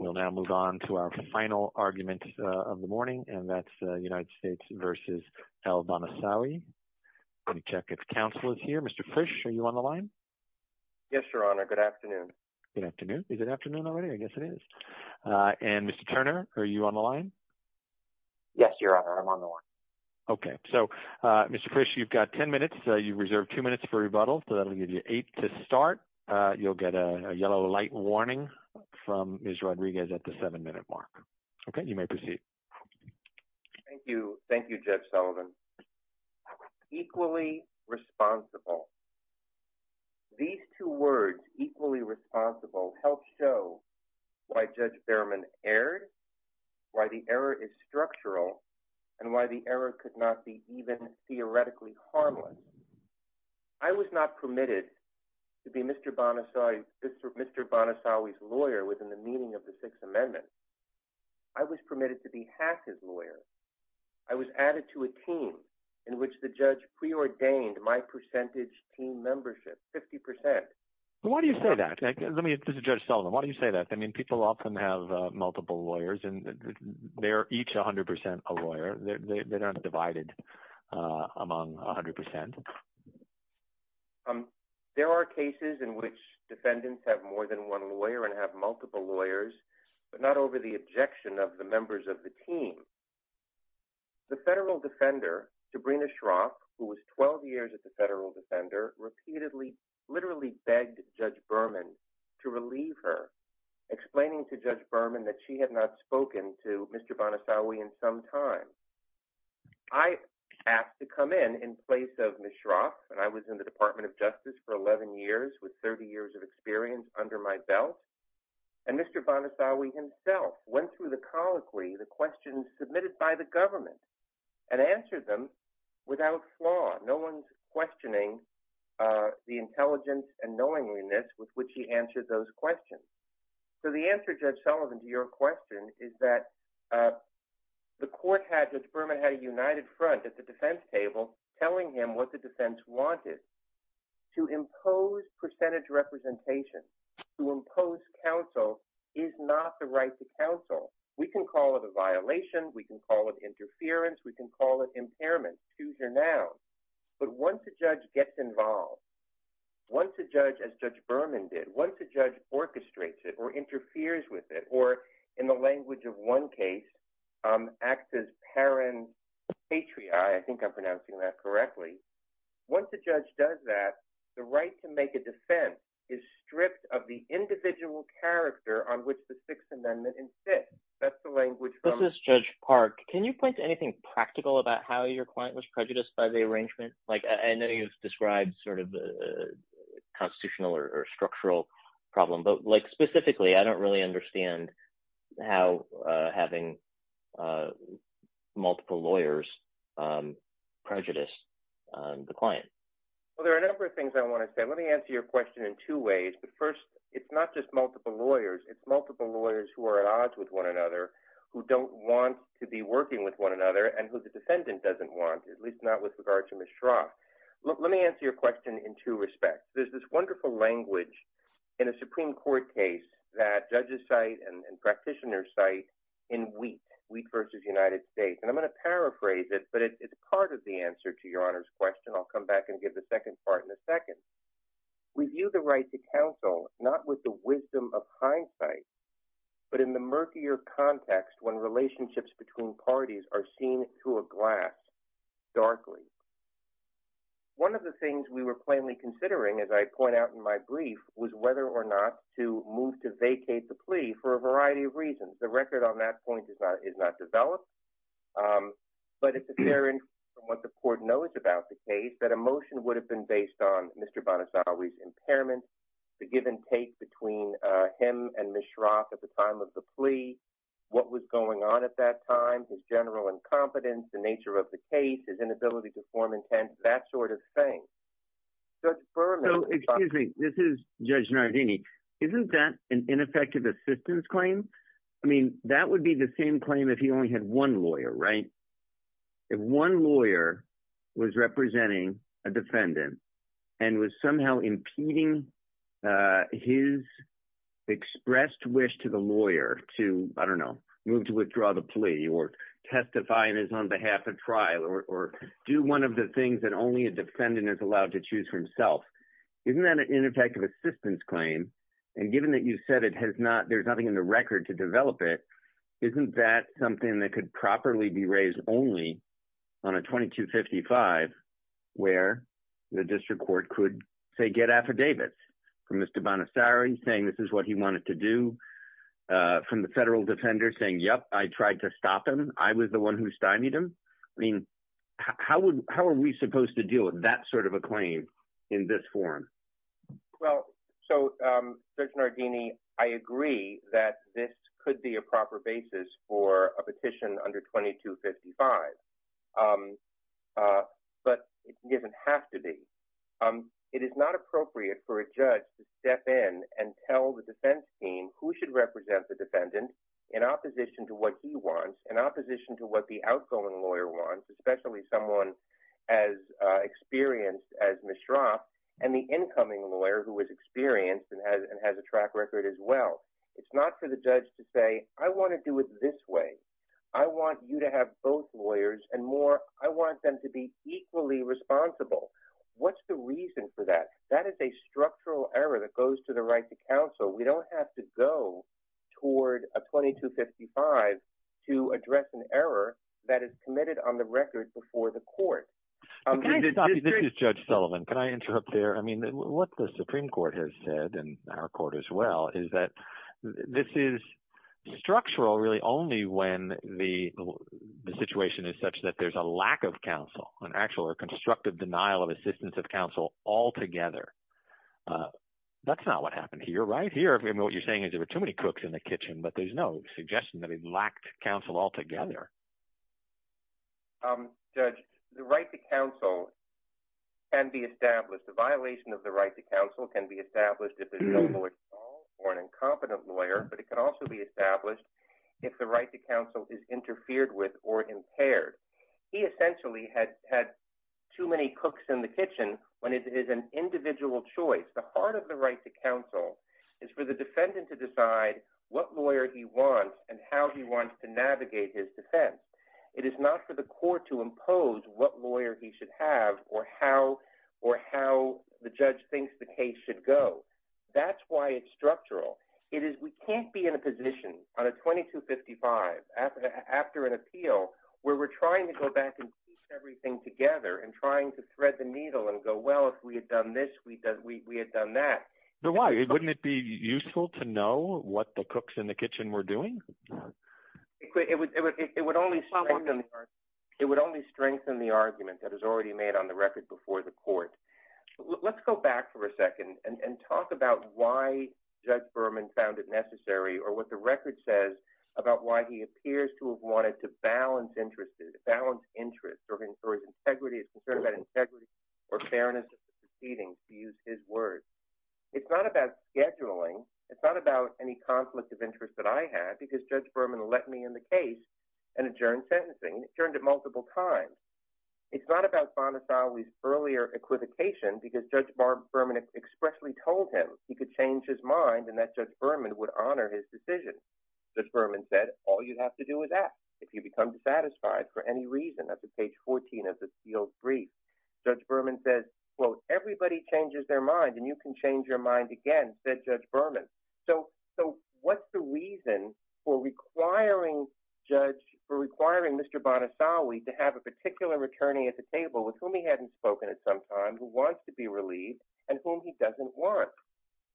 We'll now move on to our final argument of the morning, and that's United States v. L. Bahnasawy. Let me check if counsel is here. Mr. Frisch, are you on the line? Yes, Your Honor. Good afternoon. Good afternoon. Is it afternoon already? I guess it is. And Mr. Turner, are you on the line? Yes, Your Honor. I'm on the line. Okay. So, Mr. Frisch, you've got ten minutes. You've reserved two minutes for rebuttal, so that'll give you eight to start. You'll get a yellow light warning from Ms. Rodriguez at the seven-minute mark. Okay. You may proceed. Thank you. Thank you, Judge Sullivan. Equally responsible. These two words, equally responsible, help show why Judge Berman erred, why the error is structural, and why the error could not be even theoretically harmless. I was not permitted to be Mr. Bahnasawy's lawyer within the meaning of the Sixth Amendment. I was permitted to be half his lawyer. I was added to a team in which the judge preordained my percentage team membership, 50%. Why do you say that? This is Judge Sullivan. Why do you say that? I mean, people often have multiple lawyers, and they're each 100% a lawyer. They're not divided among 100%. There are cases in which defendants have more than one lawyer and have multiple lawyers, but not over the objection of the members of the team. The federal defender, Sabrina Schrock, who was 12 years at the federal defender, repeatedly, literally begged Judge Berman to relieve her, explaining to Judge Berman that she had not spoken to Mr. Bahnasawy in some time. I asked to come in in place of Ms. Schrock, and I was in the Department of Justice for 11 years with 30 years of experience under my belt, and Mr. Bahnasawy himself went through the colloquy, the questions submitted by the government, and answered them without flaw. No one's questioning the intelligence and knowingliness with which he answered those questions. The answer, Judge Sullivan, to your question is that the court had, Judge Berman had a united front at the defense table, telling him what the defense wanted. To impose percentage representation, to impose counsel, is not the right to counsel. We can call it a violation. We can call it interference. We can call it impairment, choose your noun, but once a judge gets involved, once a judge, as Judge Berman did, once a judge orchestrates it or interferes with it, or in the language of one case, acts as paren patriae, I think I'm pronouncing that correctly, once a judge does that, the right to make a defense is stripped of the individual character on which the Sixth Amendment insists. That's the language from- This is Judge Park. Can you point to anything practical about how your client was prejudiced by the arrangement? I know you've described sort of the constitutional or structural problem, but specifically, I don't really understand how having multiple lawyers prejudiced the client. Well, there are a number of things I want to say. Let me answer your question in two ways, but first, it's not just multiple lawyers. It's multiple lawyers who are at odds with one another, who don't want to be working with one another, and who the defendant doesn't want, at least not with regard to Ms. Schrock. Let me answer your question in two respects. There's this wonderful language in a Supreme Court case that judges cite and practitioners cite in Wheat, Wheat versus United States, and I'm going to paraphrase it, but it's part of the answer to your Honor's question. I'll come back and give the second part in a second. We view the right to counsel not with the wisdom of hindsight, but in the murkier context when relationships between parties are seen through a glass, darkly. One of the things we were plainly considering, as I point out in my brief, was whether or not to move to vacate the plea for a variety of reasons. The record on that point is not developed, but it's apparent from what the court knows about the case that a motion would have been based on Mr. Bonasowi's impairment, the give and take between him and Ms. Schrock at the time of the plea, what was going on at that time, his general incompetence, the nature of the case, his inability to form intent, that sort of thing. Judge Berman. So, excuse me. This is Judge Nardini. Isn't that an ineffective assistance claim? I mean, that would be the same claim if he only had one lawyer, right? If one lawyer was representing a defendant and was somehow impeding his expressed wish to the lawyer to, I don't know, move to withdraw the plea or testify on his behalf at trial or do one of the things that only a defendant is allowed to choose for himself, isn't that an ineffective assistance claim? And given that you said there's nothing in the record to develop it, isn't that something that could properly be raised only on a 2255 where the district court could, say, get affidavits from Mr. Bonasowi saying this is what he wanted to do, from the federal defender saying, yep, I tried to stop him. I was the one who stymied him. I mean, how are we supposed to deal with that sort of a claim in this forum? Well, so, Judge Nardini, I agree that this could be a proper basis for a petition under 2255. But it doesn't have to be. It is not appropriate for a judge to step in and tell the defense team who should represent the defendant in opposition to what he wants, in opposition to what the outgoing lawyer wants, especially someone as experienced as Mishra and the incoming lawyer who is experienced and has a track record as well. It's not for the judge to say, I want to do it this way. I want you to have both lawyers and more, I want them to be equally responsible. What's the reason for that? That is a structural error that goes to the right to counsel. We don't have to go toward a 2255 to address an error that is committed on the record before the court. Can I stop you? This is Judge Sullivan. Can I interrupt there? I mean, what the Supreme Court has said, and our court as well, is that this is structural really only when the situation is such that there's a lack of counsel, an actual or constructive denial of assistance of counsel altogether. That's not what happened here. Right here, what you're saying is there were too many cooks in the kitchen, but there's no suggestion that it lacked counsel altogether. Judge, the right to counsel can be established. The violation of the right to counsel can be established if it's a lawful or an incompetent lawyer, but it can also be established if the right to counsel is interfered with or impaired. He essentially had too many cooks in the kitchen when it is an individual choice. The heart of the right to counsel is for the defendant to decide what lawyer he wants and how he wants to navigate his defense. It is not for the court to impose what lawyer he should have or how the judge thinks the That's why it's structural. We can't be in a position on a 2255 after an appeal where we're trying to go back and piece everything together and trying to thread the needle and go, well, if we had done this, we had done that. Why? Wouldn't it be useful to know what the cooks in the kitchen were doing? It would only strengthen the argument that is already made on the record before the court. Let's go back for a second and talk about why Judge Berman found it necessary or what the record says about why he appears to have wanted to balance interests or his integrity or fairness of proceedings, to use his words. It's not about scheduling. It's not about any conflict of interest that I had because Judge Berman let me in the case and adjourned sentencing. He adjourned it multiple times. It's not about Bonasawi's earlier equivocation because Judge Berman expressly told him he could change his mind and that Judge Berman would honor his decision. Judge Berman said, all you have to do is ask if you become dissatisfied for any reason at the page 14 of the appeal brief. Judge Berman says, well, everybody changes their mind and you can change your mind again, said Judge Berman. So what's the reason for requiring Judge, for requiring Mr. Bonasawi to have a particular attorney at the table with whom he hadn't spoken at some time who wants to be relieved and whom he doesn't want?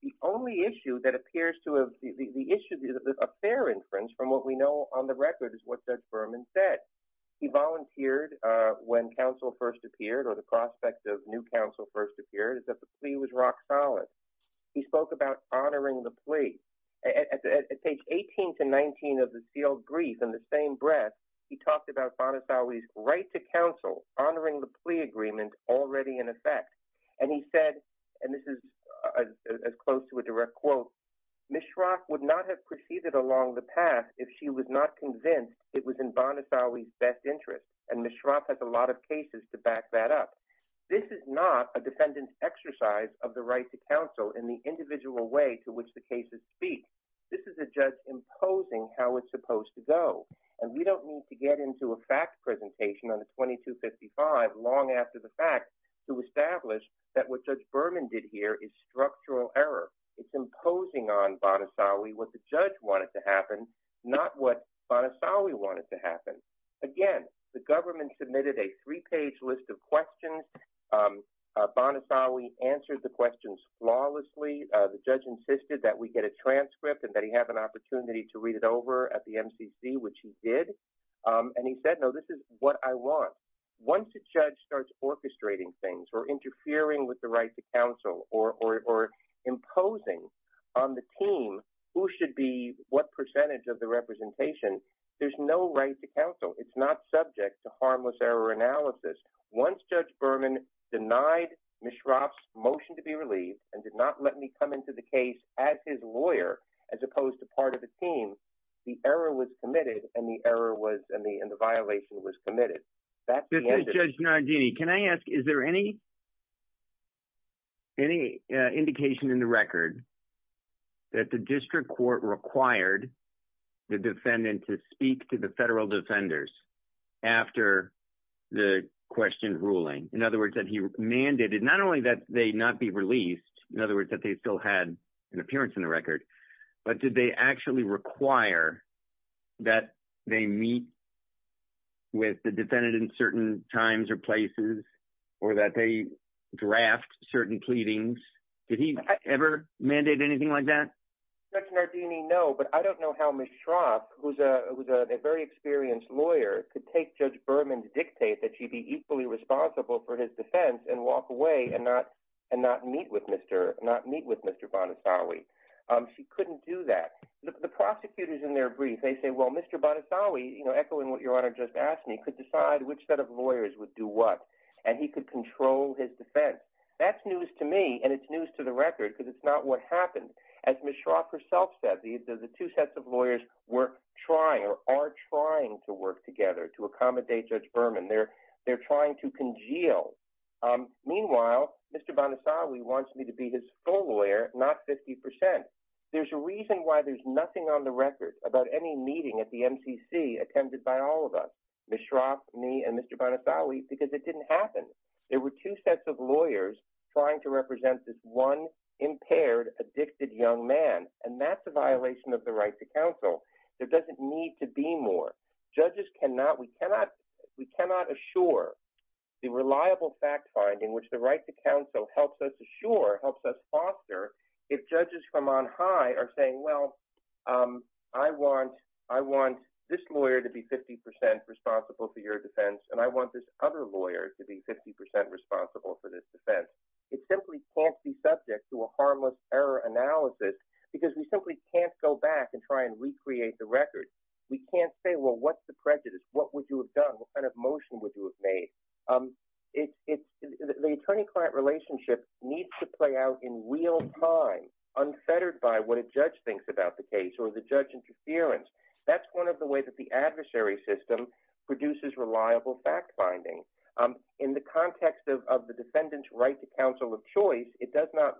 The only issue that appears to have, the issue is a fair inference from what we know on the record is what Judge Berman said. He volunteered when counsel first appeared or the prospect of new counsel first appeared is that the plea was rock solid. He spoke about honoring the plea at page 18 to 19 of the sealed brief in the same breath. He talked about Bonasawi's right to counsel honoring the plea agreement already in effect. And he said, and this is as close to a direct quote, Ms. Schrock would not have proceeded along the path if she was not convinced it was in Bonasawi's best interest. And Ms. Schrock has a lot of cases to back that up. This is not a defendant's exercise of the right to counsel in the individual way to which the cases speak. This is a judge imposing how it's supposed to go. And we don't need to get into a fact presentation on the 2255 long after the fact to establish that what Judge Berman did here is structural error. It's imposing on Bonasawi what the judge wanted to happen, not what Bonasawi wanted to happen. Again, the government submitted a three-page list of questions. Bonasawi answered the questions flawlessly. The judge insisted that we get a transcript and that he have an opportunity to read it over at the MCC, which he did. And he said, no, this is what I want. Once a judge starts orchestrating things or interfering with the right to counsel or imposing on the team who should be what percentage of the representation, there's no right to counsel. It's not subject to harmless error analysis. Once Judge Berman denied Ms. Schrock's motion to be relieved and did not let me come into the case as his lawyer, as opposed to part of the team, the error was committed and the violation was committed. This is Judge Nardini. Can I ask, is there any indication in the record that the district court required the defendant to speak to the federal defenders after the question ruling? In other words, that he mandated not only that they not be released, in other words, that they still had an appearance in the record, but did they actually require that they meet with the defendant in certain times or places or that they draft certain pleadings? Did he ever mandate anything like that? Judge Nardini, no, but I don't know how Ms. Schrock, who's a very experienced lawyer, could take Judge Berman to dictate that she be equally responsible for his defense and walk away and not meet with Mr. Bonasawi. She couldn't do that. The prosecutors in their brief, they say, well, Mr. Bonasawi, echoing what Your Honor just asked me, could decide which set of lawyers would do what and he could control his defense. That's news to me and it's news to the record because it's not what happened. As Ms. Schrock herself said, the two sets of lawyers were trying or are trying to work together to accommodate Judge Berman. They're trying to congeal. Meanwhile, Mr. Bonasawi wants me to be his full lawyer, not 50%. There's a reason why there's nothing on the record about any meeting at the MCC attended by all of us, Ms. Schrock, me, and Mr. Bonasawi, because it didn't happen. There were two sets of lawyers trying to represent this one impaired, addicted young man and that's a violation of the right to counsel. There doesn't need to be more. Judges cannot, we cannot assure the reliable fact finding which the right to counsel helps us foster if judges from on high are saying, well, I want this lawyer to be 50% responsible for your defense and I want this other lawyer to be 50% responsible for this defense. It simply can't be subject to a harmless error analysis because we simply can't go back and try and recreate the record. We can't say, well, what's the prejudice? What would you have done? What kind of motion would you have made? It's the attorney-client relationship needs to play out in real time, unfettered by what a judge thinks about the case or the judge interference. That's one of the ways that the adversary system produces reliable fact finding. In the context of the defendant's right to counsel of choice, it does not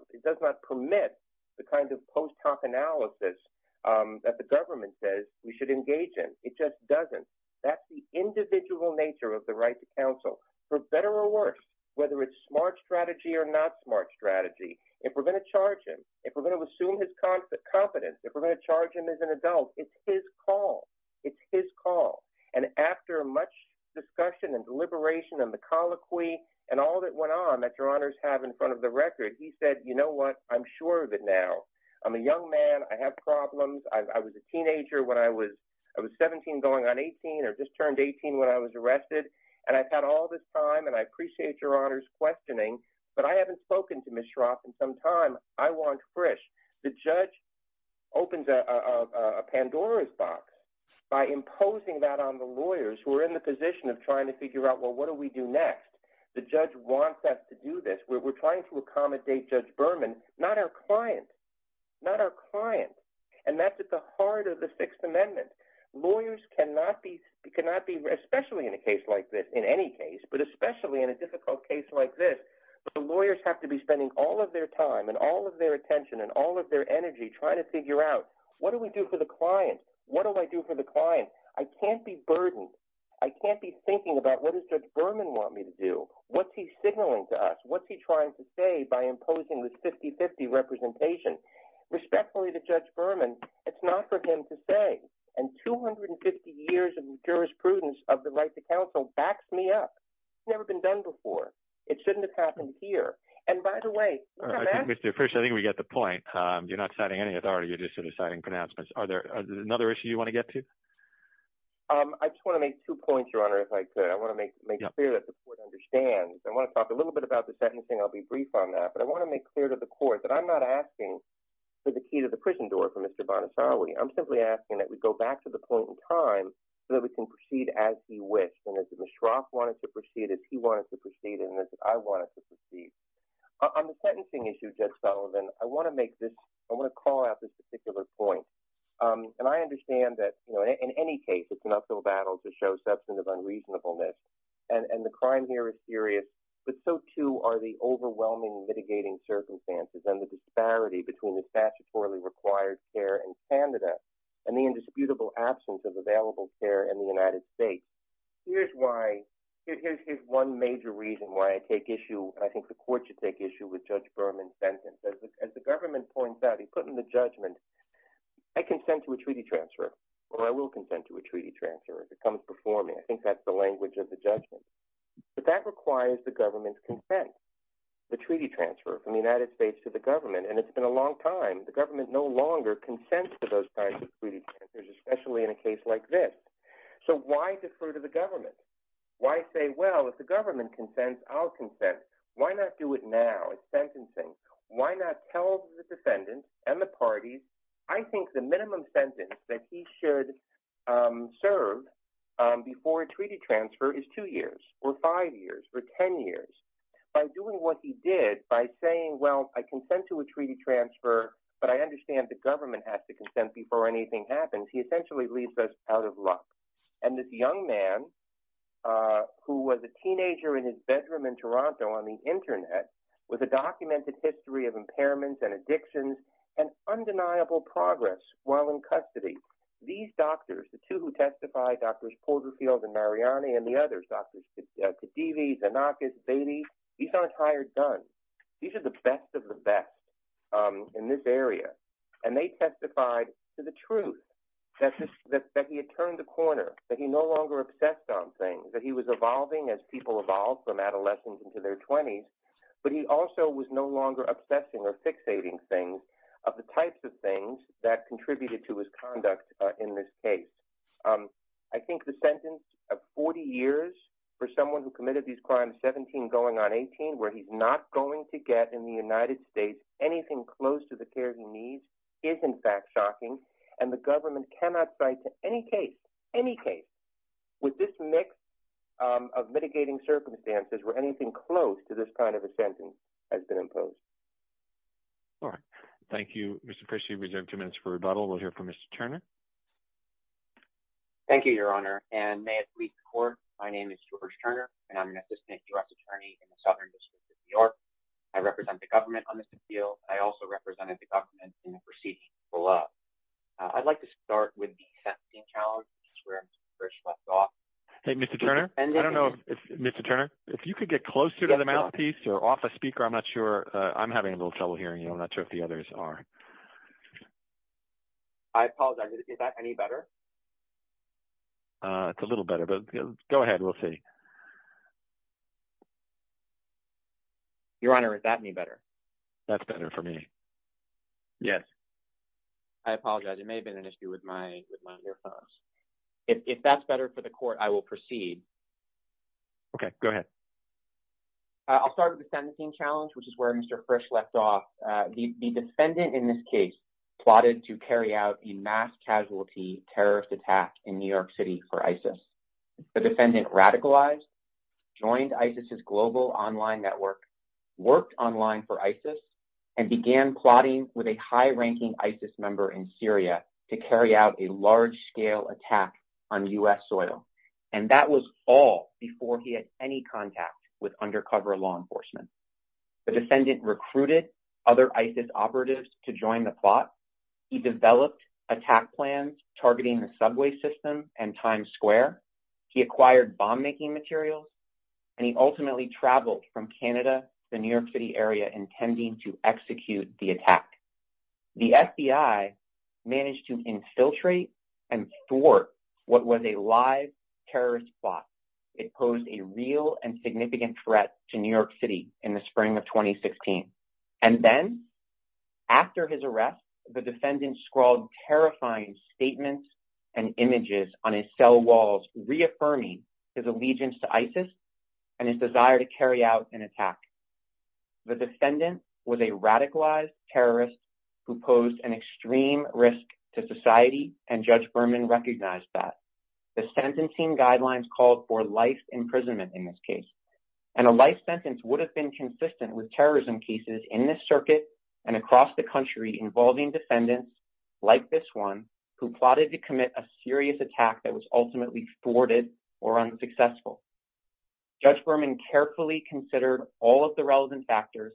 permit the kind of post hoc analysis that the government says we should engage in. It just doesn't. That's the individual nature of the right to counsel, for better or worse, whether it's smart strategy or not smart strategy. If we're going to charge him, if we're going to assume his confidence, if we're going to charge him as an adult, it's his call. It's his call. And after much discussion and deliberation and the colloquy and all that went on that your honors have in front of the record, he said, you know what? I'm sure of it now. I'm a young man. I have problems. I was a teenager when I was 17 going on 18 or just turned 18 when I was arrested. And I've had all this time and I appreciate your honors questioning, but I haven't spoken to Ms. Schroff in some time. I want fresh. The judge opens a Pandora's box by imposing that on the lawyers who are in the position of trying to figure out, well, what do we do next? The judge wants us to do this. We're trying to accommodate Judge Berman, not our client, not our client. And that's at the heart of the Sixth Amendment. Lawyers cannot be, especially in a case like this, in any case, but especially in a difficult case like this, the lawyers have to be spending all of their time and all of their attention and all of their energy trying to figure out what do we do for the client? What do I do for the client? I can't be burdened. I can't be thinking about what does Judge Berman want me to do? What's he signaling to us? What's he trying to say by imposing this 50-50 representation? Respectfully to Judge Berman, it's not for him to say. And 250 years of jurisprudence of the rights of counsel backs me up. It's never been done before. It shouldn't have happened here. And by the way, Mr. Fish, I think we get the point. You're not citing any authority. You're just sort of citing pronouncements. Are there another issue you want to get to? I just want to make two points, Your Honor, if I could. I want to make it clear that the court understands. I want to talk a little bit about the sentencing. I'll be brief on that. I want to make clear to the court that I'm not asking for the key to the prison door for Mr. Bonacari. I'm simply asking that we go back to the point in time so that we can proceed as he wished. And as Mishra wanted to proceed, as he wanted to proceed, and as I wanted to proceed. On the sentencing issue, Judge Sullivan, I want to make this, I want to call out this particular point. And I understand that in any case, it's an uphill battle to show substantive unreasonableness. And the crime here is serious, but so too are the overwhelming mitigating circumstances and the disparity between the statutorily required care in Canada and the indisputable absence of available care in the United States. Here's why, here's one major reason why I take issue, I think the court should take issue with Judge Berman's sentence. As the government points out, he put in the judgment, I consent to a treaty transfer, or I will consent to a treaty transfer if it comes before me. I think that's the language of the judgment. But that requires the government's consent, the treaty transfer from the United States to the government. And it's been a long time, the government no longer consents to those kinds of treaty transfers, especially in a case like this. So why defer to the government? Why say, well, if the government consents, I'll consent. Why not do it now? It's sentencing. Why not tell the defendant and the parties, I think the minimum sentence that he should serve before a treaty transfer is two years, or five years, or 10 years. By doing what he did, by saying, well, I consent to a treaty transfer, but I understand the government has to consent before anything happens, he essentially leaves us out of luck. And this young man, who was a teenager in his bedroom in Toronto on the internet, with a documented history of impairments and addictions, and undeniable progress while in custody. These doctors, the two who testified, Drs. Calderfield and Mariani, and the others, Drs. Khedivi, Zanakis, Bailey, these aren't hired guns. These are the best of the best in this area. And they testified to the truth, that he had turned the corner, that he no longer obsessed on things, that he was evolving as people evolve from adolescents into their 20s, but he also was no longer obsessing or fixating things of the types of things that contributed to his conduct in this case. I think the sentence of 40 years for someone who committed these crimes, 17 going on 18, where he's not going to get in the United States anything close to the care he needs, is in fact shocking. And the government cannot cite to any case, any case, with this mix of mitigating circumstances where anything close to this kind of a sentence has been imposed. All right. Mr. Pritchett, you have two minutes for rebuttal. We'll hear from Mr. Turner. Thank you, Your Honor. And may it please the Court, my name is George Turner, and I'm an assistant direct attorney in the Southern District of New York. I represent the government on this appeal. I also represented the government in the proceedings below. I'd like to start with the sentencing challenge, which is where Mr. Pritchett left off. Hey, Mr. Turner, I don't know if, Mr. Turner, if you could get closer to the mouthpiece or off a speaker, I'm not sure, I'm having a little trouble hearing you. I'm not sure if the others are. I apologize, is that any better? It's a little better, but go ahead, we'll see. Your Honor, is that any better? That's better for me, yes. I apologize, it may have been an issue with my earphones. If that's better for the Court, I will proceed. Okay, go ahead. I'll start with the sentencing challenge, which is where Mr. Frisch left off. The defendant in this case plotted to carry out a mass casualty terrorist attack in New York City for ISIS. The defendant radicalized, joined ISIS's global online network, worked online for ISIS, and began plotting with a high-ranking ISIS member in Syria to carry out a large-scale attack on U.S. soil. And that was all before he had any contact with undercover law enforcement. The defendant recruited other ISIS operatives to join the plot. He developed attack plans targeting the subway system and Times Square. He acquired bomb-making materials, and he ultimately traveled from Canada to the New York City area, intending to execute the attack. The FBI managed to infiltrate and thwart what was a live terrorist plot. It posed a real and significant threat to New York City in the spring of 2016. And then, after his arrest, the defendant scrawled terrifying statements and images on his cell walls, reaffirming his allegiance to ISIS and his desire to carry out an attack. The defendant was a radicalized terrorist who posed an extreme risk to society, and Judge Berman recognized that. The sentencing guidelines called for life imprisonment in this case, and a life sentence would have been consistent with terrorism cases in this circuit and across the country involving defendants like this one who plotted to commit a serious attack that was ultimately thwarted or unsuccessful. Judge Berman carefully considered all of the relevant factors,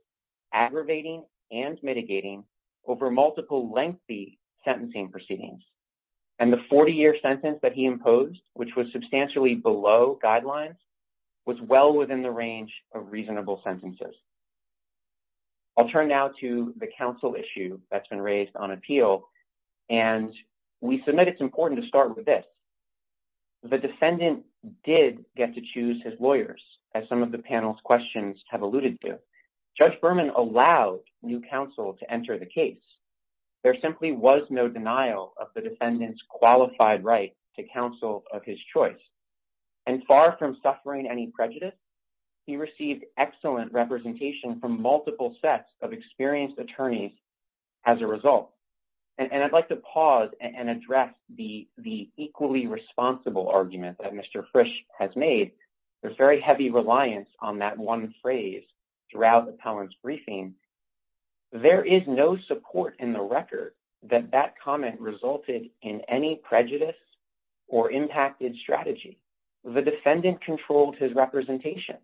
aggravating and mitigating over multiple lengthy sentencing proceedings. And the 40-year sentence that he imposed, which was substantially below guidelines, was well within the range of reasonable sentences. I'll turn now to the counsel issue that's been raised on appeal, and we submit it's important to start with this. The defendant did get to choose his lawyers, as some of the panel's questions have alluded to. Judge Berman allowed new counsel to enter the case. There simply was no denial of the defendant's qualified right to counsel of his choice. And far from suffering any prejudice, he received excellent representation from multiple sets of experienced attorneys as a result. And I'd like to pause and address the equally responsible argument that Mr. Frisch has made. There's very heavy reliance on that one phrase throughout the panel's briefing. There is no support in the record that that comment resulted in any prejudice or impacted strategy. The defendant controlled his representation.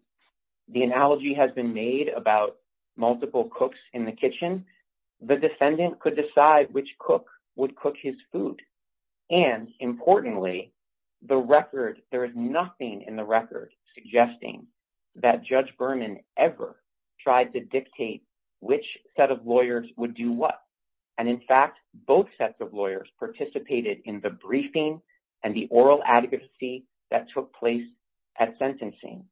The analogy has been made about multiple cooks in the kitchen. The defendant could decide which cook would cook his food. And importantly, the record, there is nothing in the record suggesting that Judge Berman ever tried to dictate which set of lawyers would do what. And in fact, both sets of lawyers participated in the briefing and the oral advocacy that took place at sentencing.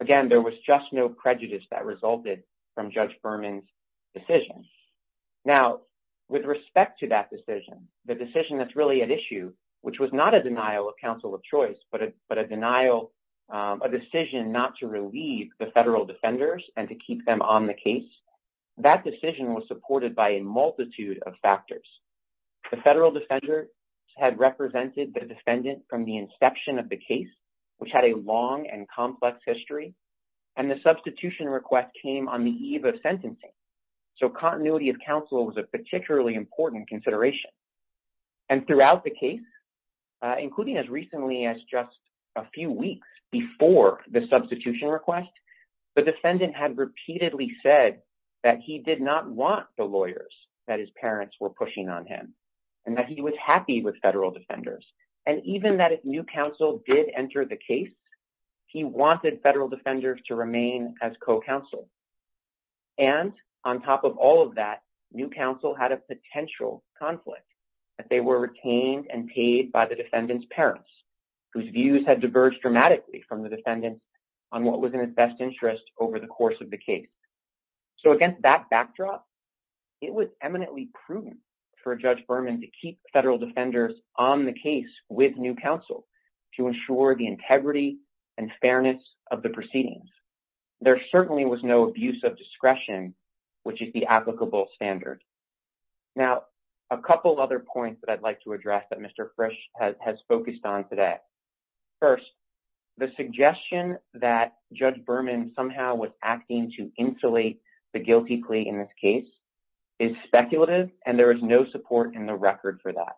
Again, there was just no prejudice that resulted from Judge Berman's decision. Now, with respect to that decision, the decision that's really at issue, which was not a denial, a decision not to relieve the federal defenders and to keep them on the case, that decision was supported by a multitude of factors. The federal defender had represented the defendant from the inception of the case, which had a long and complex history, and the substitution request came on the eve of sentencing. So continuity of counsel was a particularly important consideration. And throughout the case, including as recently as just a few weeks before the substitution request, the defendant had repeatedly said that he did not want the lawyers that his parents were pushing on him and that he was happy with federal defenders. And even that if new counsel did enter the case, he wanted federal defenders to remain as co-counsel. And on top of all of that, new counsel had a potential conflict that they were retained and paid by the defendant's parents, whose views had diverged dramatically from the defendant on what was in his best interest over the course of the case. So against that backdrop, it was eminently prudent for Judge Berman to keep federal defenders on the case with new counsel to ensure the integrity and fairness of the proceedings. There certainly was no abuse of discretion, which is the applicable standard. Now, a couple other points that I'd like to address that Mr. Frisch has focused on today. First, the suggestion that Judge Berman somehow was acting to insulate the guilty plea in this case is speculative, and there is no support in the record for that.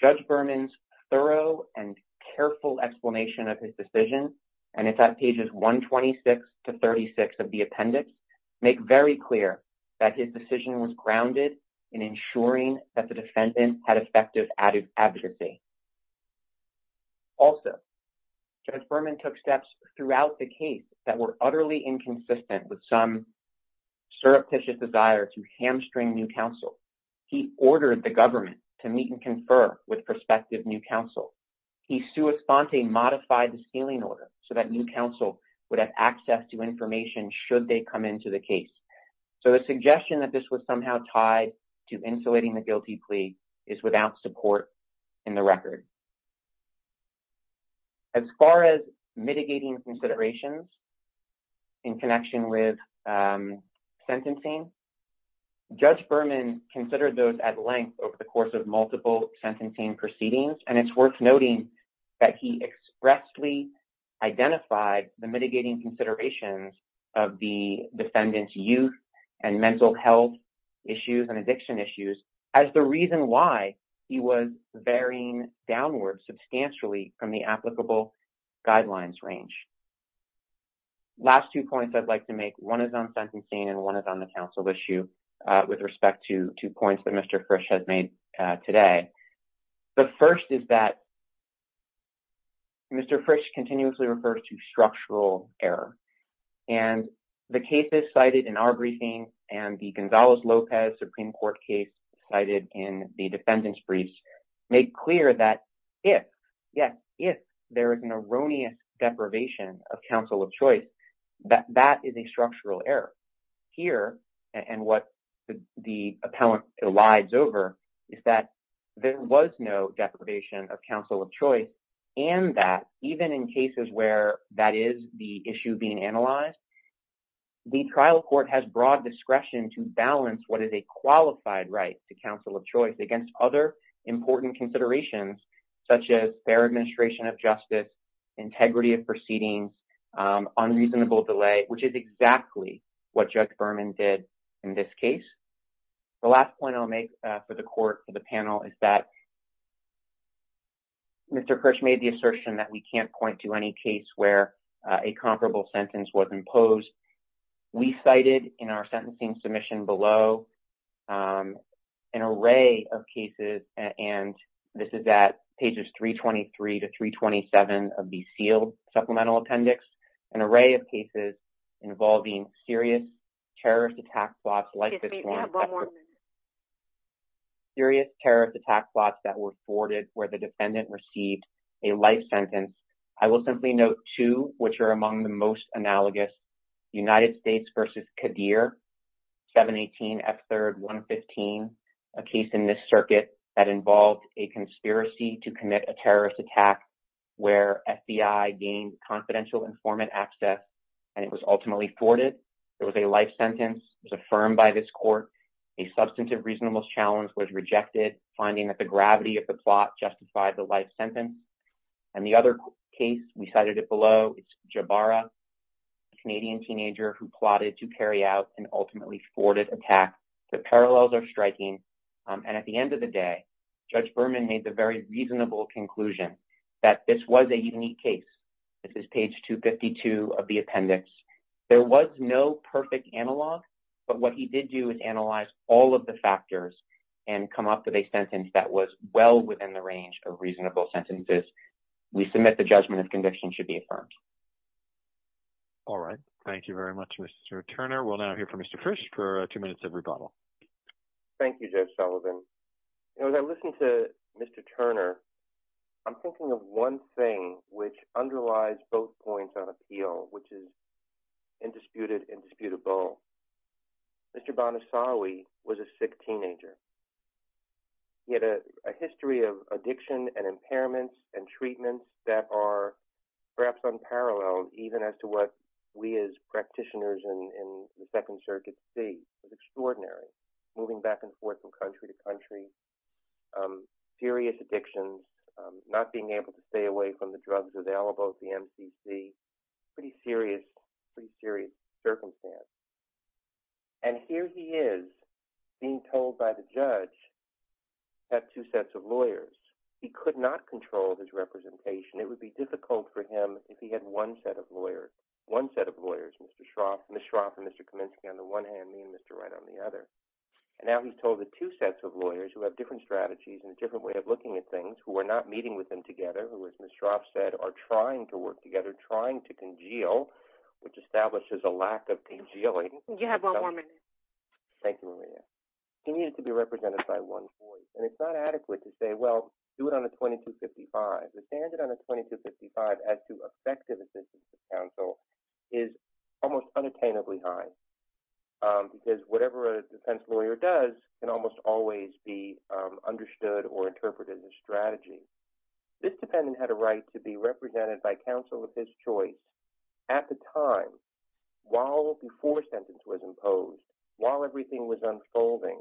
Judge Berman's thorough and careful explanation of his decision, and it's at pages 126 to 36 of the appendix, make very clear that his decision was grounded in ensuring that the defendant had effective advocacy. Also, Judge Berman took steps throughout the case that were utterly inconsistent with some surreptitious desire to hamstring new counsel. He ordered the government to meet and confer with prospective new counsel. He sua sponte modified the sealing order so that new counsel would have access to information should they come into the case. So the suggestion that this was somehow tied to insulating the guilty plea is without support in the record. As far as mitigating considerations in connection with sentencing, Judge Berman considered those at length over the course of multiple sentencing proceedings, and it's worth noting that he expressly identified the mitigating considerations of the defendant's youth and mental health issues and addiction issues as the reason why he was varying downwards substantially from the applicable guidelines range. Last two points I'd like to make. One is on sentencing, and one is on the counsel issue with respect to two points that Mr. Frisch has made today. The first is that Mr. Frisch continuously refers to structural error, and the cases cited in our briefing and the Gonzalez-Lopez Supreme Court case cited in the defendant's briefs make clear that if, yes, if there is an erroneous deprivation of counsel of choice, that is a structural error. Here, and what the appellant elides over, is that there was no deprivation of counsel of choice, and that even in cases where that is the issue being analyzed, the trial court has broad discretion to balance what is a qualified right to counsel of choice against other important considerations such as fair administration of justice, integrity of proceedings, unreasonable delay, which is exactly what Judge Berman did in this case. The last point I'll make for the court, for the panel, is that Mr. Frisch made the assertion that we can't point to any case where a comparable sentence was imposed. We cited in our sentencing submission below an array of cases, and this is at pages 323 to 327 of the sealed supplemental appendix, an array of cases involving serious terrorist attack plots like this one, serious terrorist attack plots that were thwarted where the defendant received a life sentence. I will simply note two which are among the most analogous, United States versus Qadir, 718 F3rd 115, a case in this circuit that involved a conspiracy to commit a terrorist attack where FBI gained confidential informant access, and it was ultimately thwarted. There was a life sentence. It was affirmed by this court. A substantive reasonable challenge was rejected, finding that the gravity of the plot justified the life sentence, and the other case, we cited it below, Jabara, a Canadian teenager who plotted to carry out an ultimately thwarted attack. The parallels are striking, and at the end of the day, Judge Berman made the very reasonable conclusion that this was a unique case. This is page 252 of the appendix. There was no perfect analog, but what he did do is analyze all of the factors and come up with a sentence that was well within the range of reasonable sentences. We submit the judgment of conviction should be affirmed. All right. Thank you very much, Mr. Turner. We'll now hear from Mr. Frisch for two minutes of rebuttal. Thank you, Judge Sullivan. You know, as I listen to Mr. Turner, I'm thinking of one thing which underlies both points of appeal, which is indisputed, indisputable. Mr. Banasawi was a sick teenager. He had a history of addiction and impairments and treatments that are perhaps unparalleled even as to what we as practitioners in the Second Circuit see as extraordinary, moving back and forth from country to country, serious addictions, not being able to stay away from the drugs available at the MCC, pretty serious, pretty serious circumstance. And here he is being told by the judge that two sets of lawyers, he could not control his representation. It would be difficult for him if he had one set of lawyers, one set of lawyers, Mr. Shroff, Ms. Shroff and Mr. Kaminsky on the one hand, me and Mr. Wright on the other. And now he's told the two sets of lawyers who have different strategies and a different way of looking at things, who are not meeting with him together, who, as Ms. Shroff said, are trying to work together, trying to congeal, which establishes a lack of congealing. You have one more minute. Thank you, Maria. He needed to be represented by one voice, and it's not adequate to say, well, do it on a 2255. The standard on a 2255 as to effective assistance to counsel is almost unattainably high, because whatever a defense lawyer does can almost always be understood or interpreted as a strategy. This defendant had a right to be represented by counsel of his choice at the time, while before sentence was imposed, while everything was unfolding,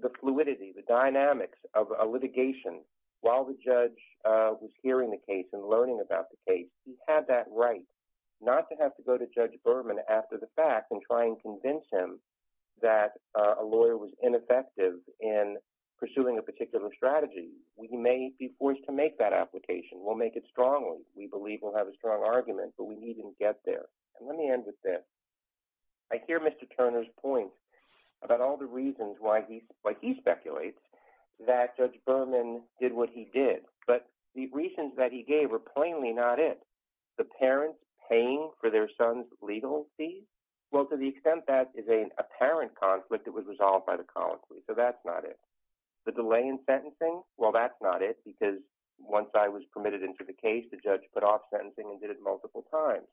the fluidity, the dynamics of a litigation, while the judge was hearing the case and learning about the case. He had that right, not to have to go to Judge Berman after the fact and try and convince him that a lawyer was ineffective in pursuing a particular strategy. He may be forced to make that application. We'll make it strongly. We believe we'll have a strong argument, but we need him to get there. And let me end with this. I hear Mr. Turner's point about all the reasons why he speculates that Judge Berman did what he did, but the reasons that he gave are plainly not it. The parents paying for their son's legal fees, well, to the extent that is an apparent conflict that was resolved by the colony, so that's not it. The delay in sentencing, well, that's not it, because once I was permitted into the case, the judge put off sentencing and did it multiple times.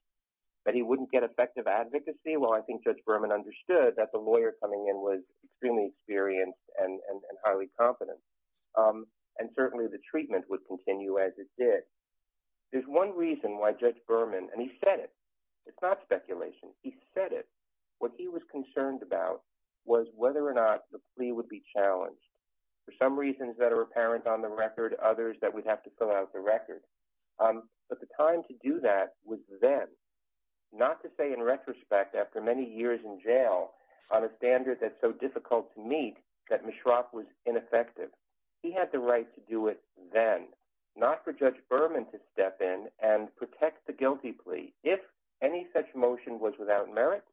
That he wouldn't get effective advocacy, well, I think Judge Berman understood that the lawyer coming in was extremely experienced and highly competent. And certainly the treatment would continue as it did. There's one reason why Judge Berman, and he said it. It's not speculation. He said it. What he was concerned about was whether or not the plea would be challenged. For some reasons that are apparent on the record, others that we'd have to fill out the record. But the time to do that was then. Not to say in retrospect after many years in jail on a standard that's so difficult to meet that Mishra was ineffective. He had the right to do it then. Not for Judge Berman to step in and protect the guilty plea. If any such motion was without merit,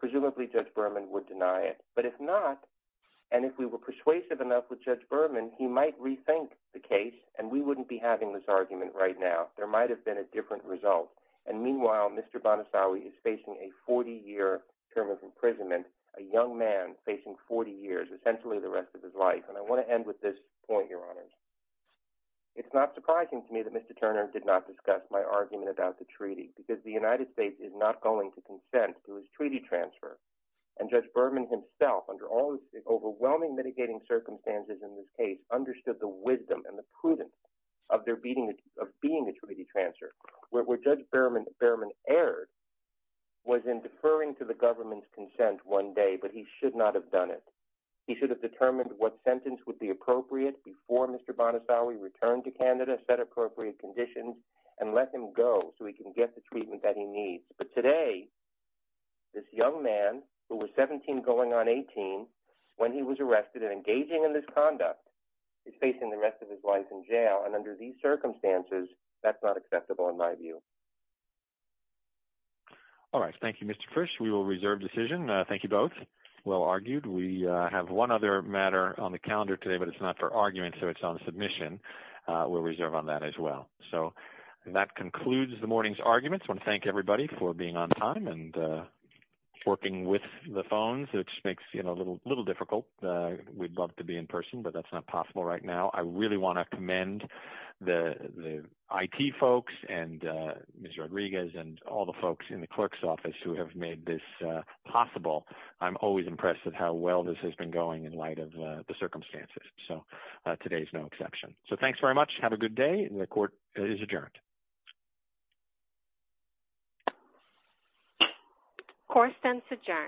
presumably Judge Berman would deny it. But if not, and if we were persuasive enough with Judge Berman, he might rethink the case and we wouldn't be having this argument right now. There might have been a different result. And meanwhile, Mr. Banasawi is facing a 40-year term of imprisonment. A young man facing 40 years, essentially the rest of his life. And I want to end with this point, Your Honor. It's not surprising to me that Mr. Turner did not discuss my argument about the treaty because the United States is not going to consent to his treaty transfer. And Judge Berman himself, under all the overwhelming mitigating circumstances in this case, understood the wisdom and the prudence of their being a treaty transfer. Where Judge Berman erred was in deferring to the government's consent one day, but he should not have done it. He should have determined what sentence would be appropriate before Mr. Banasawi returned to Canada, set appropriate conditions, and let him go so he can get the treatment that he needs. But today, this young man, who was 17 going on 18, when he was arrested and engaging in this conduct, is facing the rest of his life in jail. And under these circumstances, that's not acceptable in my view. All right. Thank you, Mr. Frisch. We will reserve decision. Thank you both. Well argued. We have one other matter on the calendar today, but it's not for argument, so it's on submission. We'll reserve on that as well. So that concludes the morning's arguments. I want to thank everybody for being on time and working with the phones, which makes it a little difficult. We'd love to be in person, but that's not possible right now. I really want to commend the IT folks and Ms. Rodriguez and all the folks in the clerk's office who have made this possible. I'm always impressed with how well this has been going in light of the circumstances. So today is no exception. So thanks very much. Have a good day. The court is adjourned. Court stands adjourned.